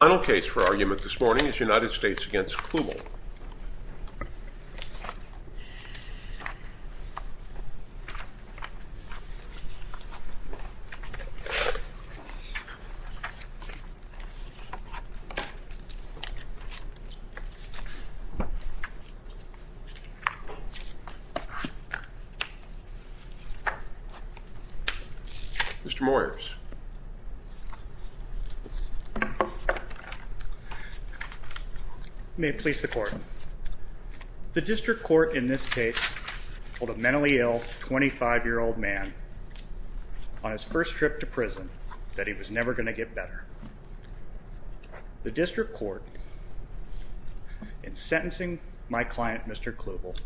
The final case for argument this morning is United States v. Kluball. Mr. Moyers. May it please the court. The district court in this case held a mentally ill 25-year-old man on his first trip to prison that he was never going to get better. The district court in sentencing my client Mr. Kluball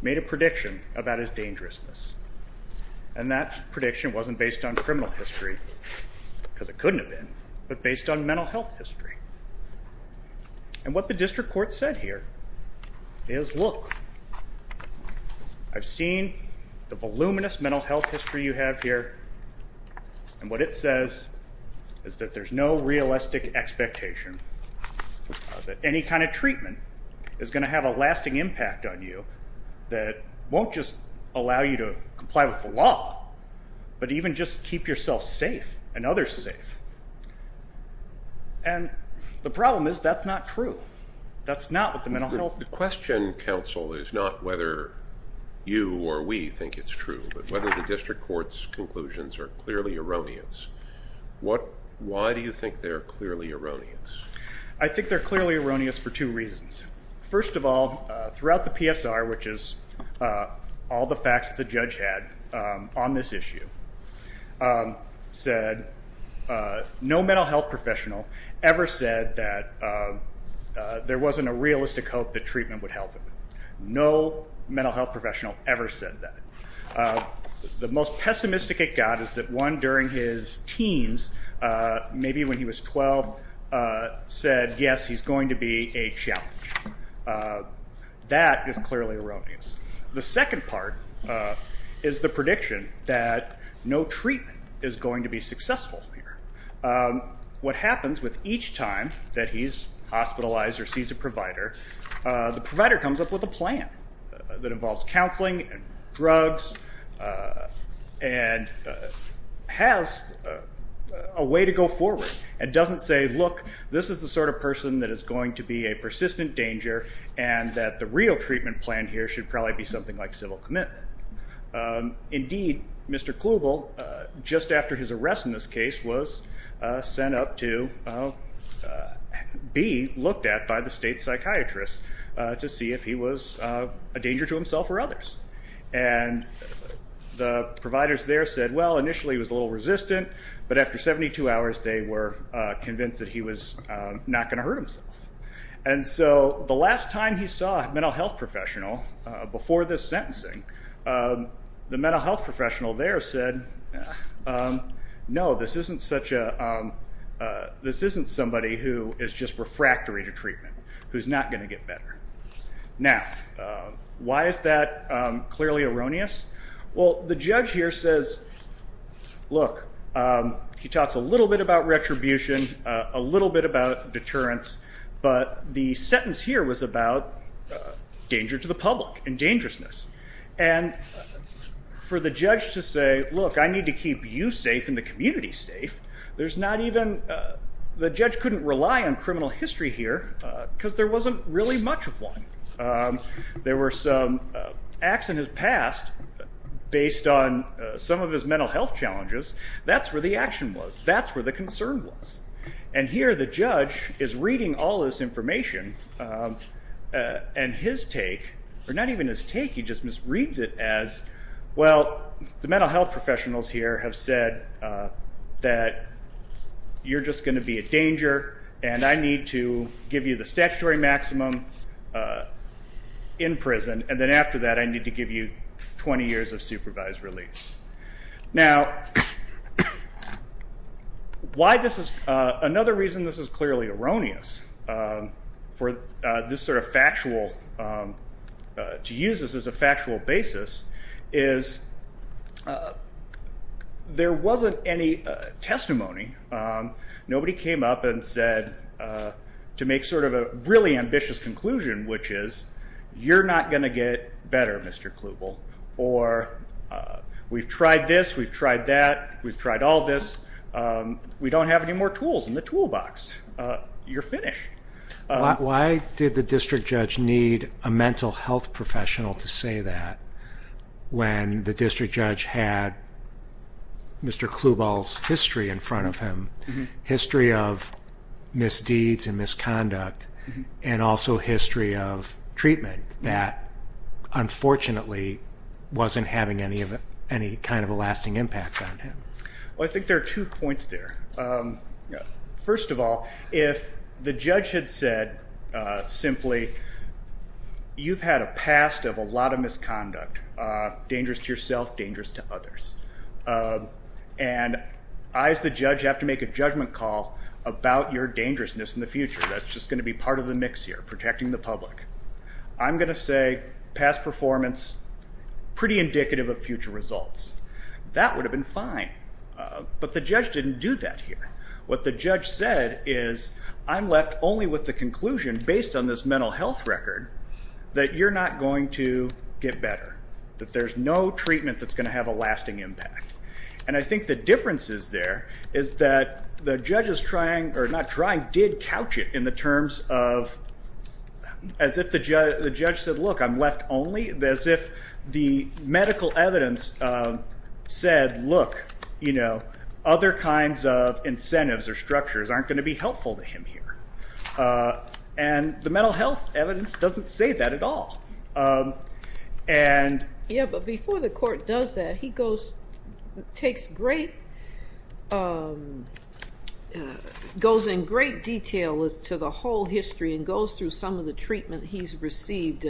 made a prediction about his dangerousness. And that prediction wasn't based on criminal history, because it couldn't have been, but based on mental health history. And what the district court said here is, look, I've seen the voluminous mental health history you have here. And what it says is that there's no realistic expectation that any kind of treatment is going to have a lasting impact on you that won't just allow you to comply with the law, but even just keep yourself safe and others safe. And the problem is that's not true. That's not what the mental health. The question, counsel, is not whether you or we think it's true, but whether the district court's conclusions are clearly erroneous. Why do you think they're clearly erroneous? I think they're clearly erroneous for two reasons. First of all, throughout the PSR, which is all the facts that the judge had on this issue, said no mental health professional ever said that there wasn't a realistic hope that treatment would help him. No mental health professional ever said that. The most pessimistic at God is that one during his teens, maybe when he was 12, said, yes, he's going to be a challenge. That is clearly erroneous. The second part is the prediction that no treatment is going to be successful here. What happens with each time that he's hospitalized or sees a provider, the provider comes up with a plan that involves counseling and drugs and has a way to go forward. It doesn't say, look, this is the sort of person that is going to be a persistent danger and that the real treatment plan here should probably be something like civil commitment. Indeed, Mr. Klugel, just after his arrest in this case, was sent up to be looked at by the state psychiatrist to see if he was a danger to himself or others. The providers there said, well, initially he was a little resistant, but after 72 hours they were convinced that he was not going to hurt himself. The last time he saw a mental health professional, before this sentencing, the mental health professional there said, no, this isn't somebody who is just refractory to treatment, who's not going to get better. Now, why is that clearly erroneous? Well, the judge here says, look, he talks a little bit about retribution, a little bit about deterrence, but the sentence here was about danger to the public and dangerousness. And for the judge to say, look, I need to keep you safe and the community safe, there's not even, the judge couldn't rely on criminal history here because there wasn't really much of one. There were some acts in his past based on some of his mental health challenges, that's where the action was, that's where the concern was. And here the judge is reading all this information and his take, or not even his take, he just reads it as, well, the mental health professionals here have said that you're just going to be a danger and I need to give you the statutory maximum in prison and then after that I need to give you 20 years of supervised release. Now, another reason this is clearly erroneous for this sort of factual, to use this as a factual basis, is there wasn't any testimony. Nobody came up and said, to make sort of a really ambitious conclusion, which is, you're not going to get better, Mr. Klubal, or we've tried this, we've tried that, we've tried all this, we don't have any more tools in the toolbox. You're finished. Why did the district judge need a mental health professional to say that when the district judge had Mr. Klubal's history in front of him? History of misdeeds and misconduct and also history of treatment that unfortunately wasn't having any kind of a lasting impact on him? Well, I think there are two points there. First of all, if the judge had said simply, you've had a past of a lot of misconduct, dangerous to yourself, dangerous to others. And I as the judge have to make a judgment call about your dangerousness in the future. That's just going to be part of the mix here, protecting the public. I'm going to say past performance, pretty indicative of future results. That would have been fine. But the judge didn't do that here. What the judge said is, I'm left only with the conclusion based on this mental health record that you're not going to get better. That there's no treatment that's going to have a lasting impact. And I think the difference is there is that the judge is trying or not trying, did couch it in the terms of as if the judge said, look, I'm left only. As if the medical evidence said, look, you know, other kinds of incentives or structures aren't going to be helpful to him here. And the mental health evidence doesn't say that at all. And. Yeah, but before the court does that, he goes, takes great, goes in great detail as to the whole history and goes through some of the treatment he's received.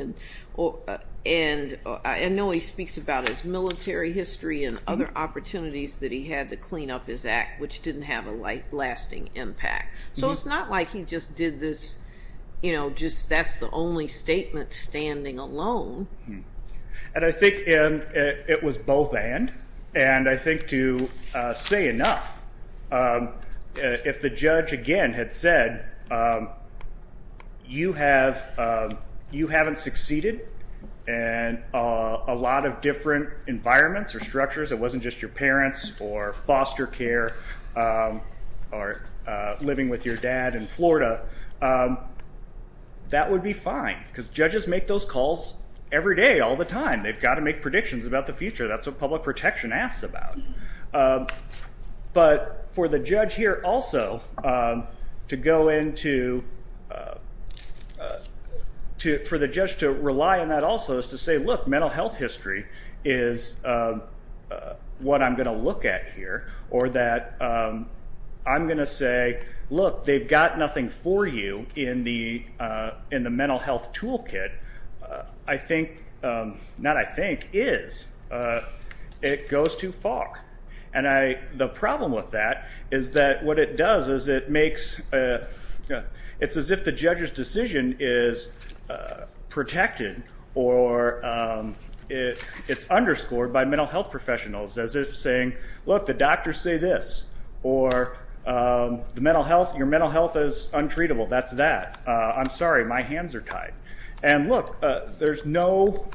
And I know he speaks about his military history and other opportunities that he had to clean up his act, which didn't have a life lasting impact. So it's not like he just did this, you know, just that's the only statement standing alone. And I think it was both and. And I think to say enough. If the judge again had said. You have you haven't succeeded and a lot of different environments or structures, it wasn't just your parents or foster care or living with your dad in Florida. That would be fine because judges make those calls every day, all the time. They've got to make predictions about the future. That's what public protection asks about. But for the judge here also to go into. To for the judge to rely on that also is to say, look, mental health history is what I'm going to look at here or that I'm going to say, look, they've got nothing for you in the in the mental health toolkit. I think not I think is it goes too far. And I the problem with that is that what it does is it makes it's as if the judge's decision is protected or it's underscored by mental health professionals as if saying, look, the doctors say this or the mental health. Your mental health is untreatable. That's that. I'm sorry, my hands are tied. And look, there's no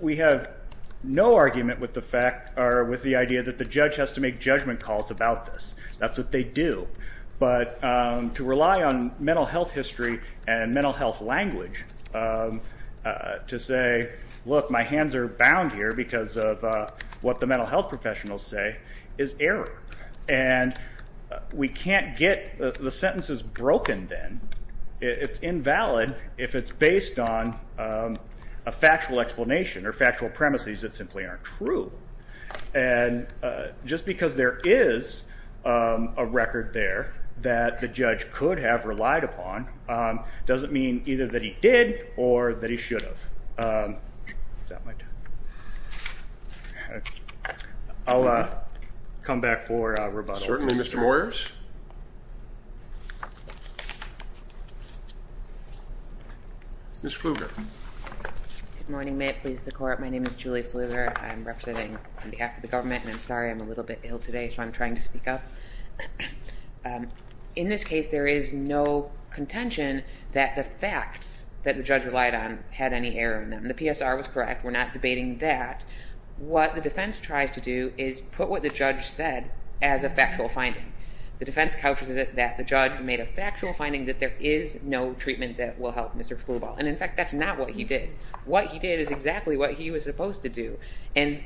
we have no argument with the fact or with the idea that the judge has to make judgment calls about this. That's what they do. But to rely on mental health history and mental health language to say, look, my hands are bound here because of what the mental health professionals say is error. And we can't get the sentences broken. It's invalid if it's based on a factual explanation or factual premises that simply aren't true. And just because there is a record there that the judge could have relied upon doesn't mean either that he did or that he should have. I'll come back for a rebuttal. Certainly, Mr. Moyers. Ms. Pfluger. Good morning. May it please the court. My name is Julie Pfluger. I'm representing on behalf of the government. And I'm sorry, I'm a little bit ill today, so I'm trying to speak up. In this case, there is no contention that the facts that the judge relied on had any error in them. The PSR was correct. We're not debating that. What the defense tries to do is put what the judge said as a factual finding. The defense counters it that the judge made a factual finding that there is no treatment that will help Mr. Pfluger. And, in fact, that's not what he did. What he did is exactly what he was supposed to do. And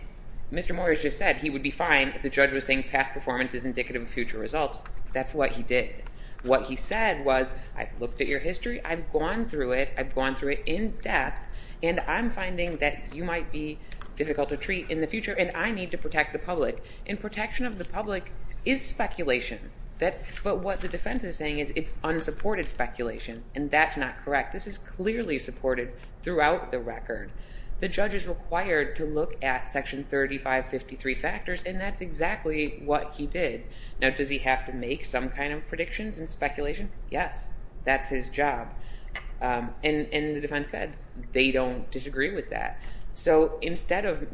Mr. Moyers just said he would be fine if the judge was saying past performance is indicative of future results. That's what he did. What he said was, I've looked at your history. I've gone through it. I've gone through it in depth. And I'm finding that you might be difficult to treat in the future, and I need to protect the public. And protection of the public is speculation. But what the defense is saying is it's unsupported speculation, and that's not correct. This is clearly supported throughout the record. The judge is required to look at Section 3553 factors, and that's exactly what he did. Now, does he have to make some kind of predictions and speculation? Yes. That's his job. And the defense said they don't disagree with that. So instead of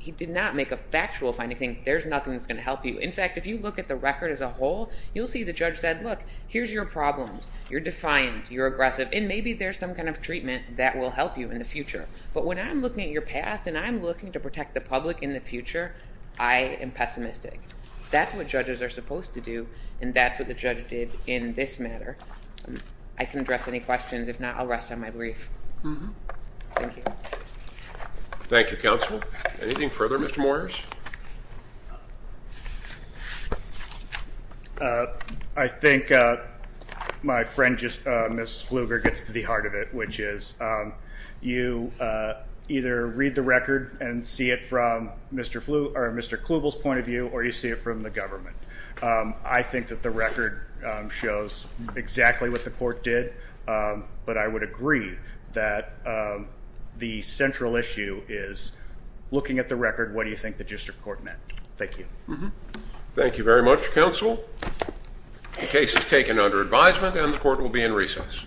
he did not make a factual finding, there's nothing that's going to help you. In fact, if you look at the record as a whole, you'll see the judge said, look, here's your problems. You're defiant. You're aggressive. And maybe there's some kind of treatment that will help you in the future. But when I'm looking at your past and I'm looking to protect the public in the future, I am pessimistic. That's what judges are supposed to do, and that's what the judge did in this matter. I can address any questions. If not, I'll rest on my brief. Thank you. Thank you, Counsel. Anything further, Mr. Moyers? I think my friend, Ms. Pfluger, gets to the heart of it, which is you either read the record and see it from Mr. Pfluger or Mr. Klugel's point of view, or you see it from the government. I think that the record shows exactly what the court did, but I would agree that the central issue is looking at the record, what do you think the district court meant? Thank you. Thank you very much, Counsel. The case is taken under advisement, and the court will be in recess. Thank you. Thank you.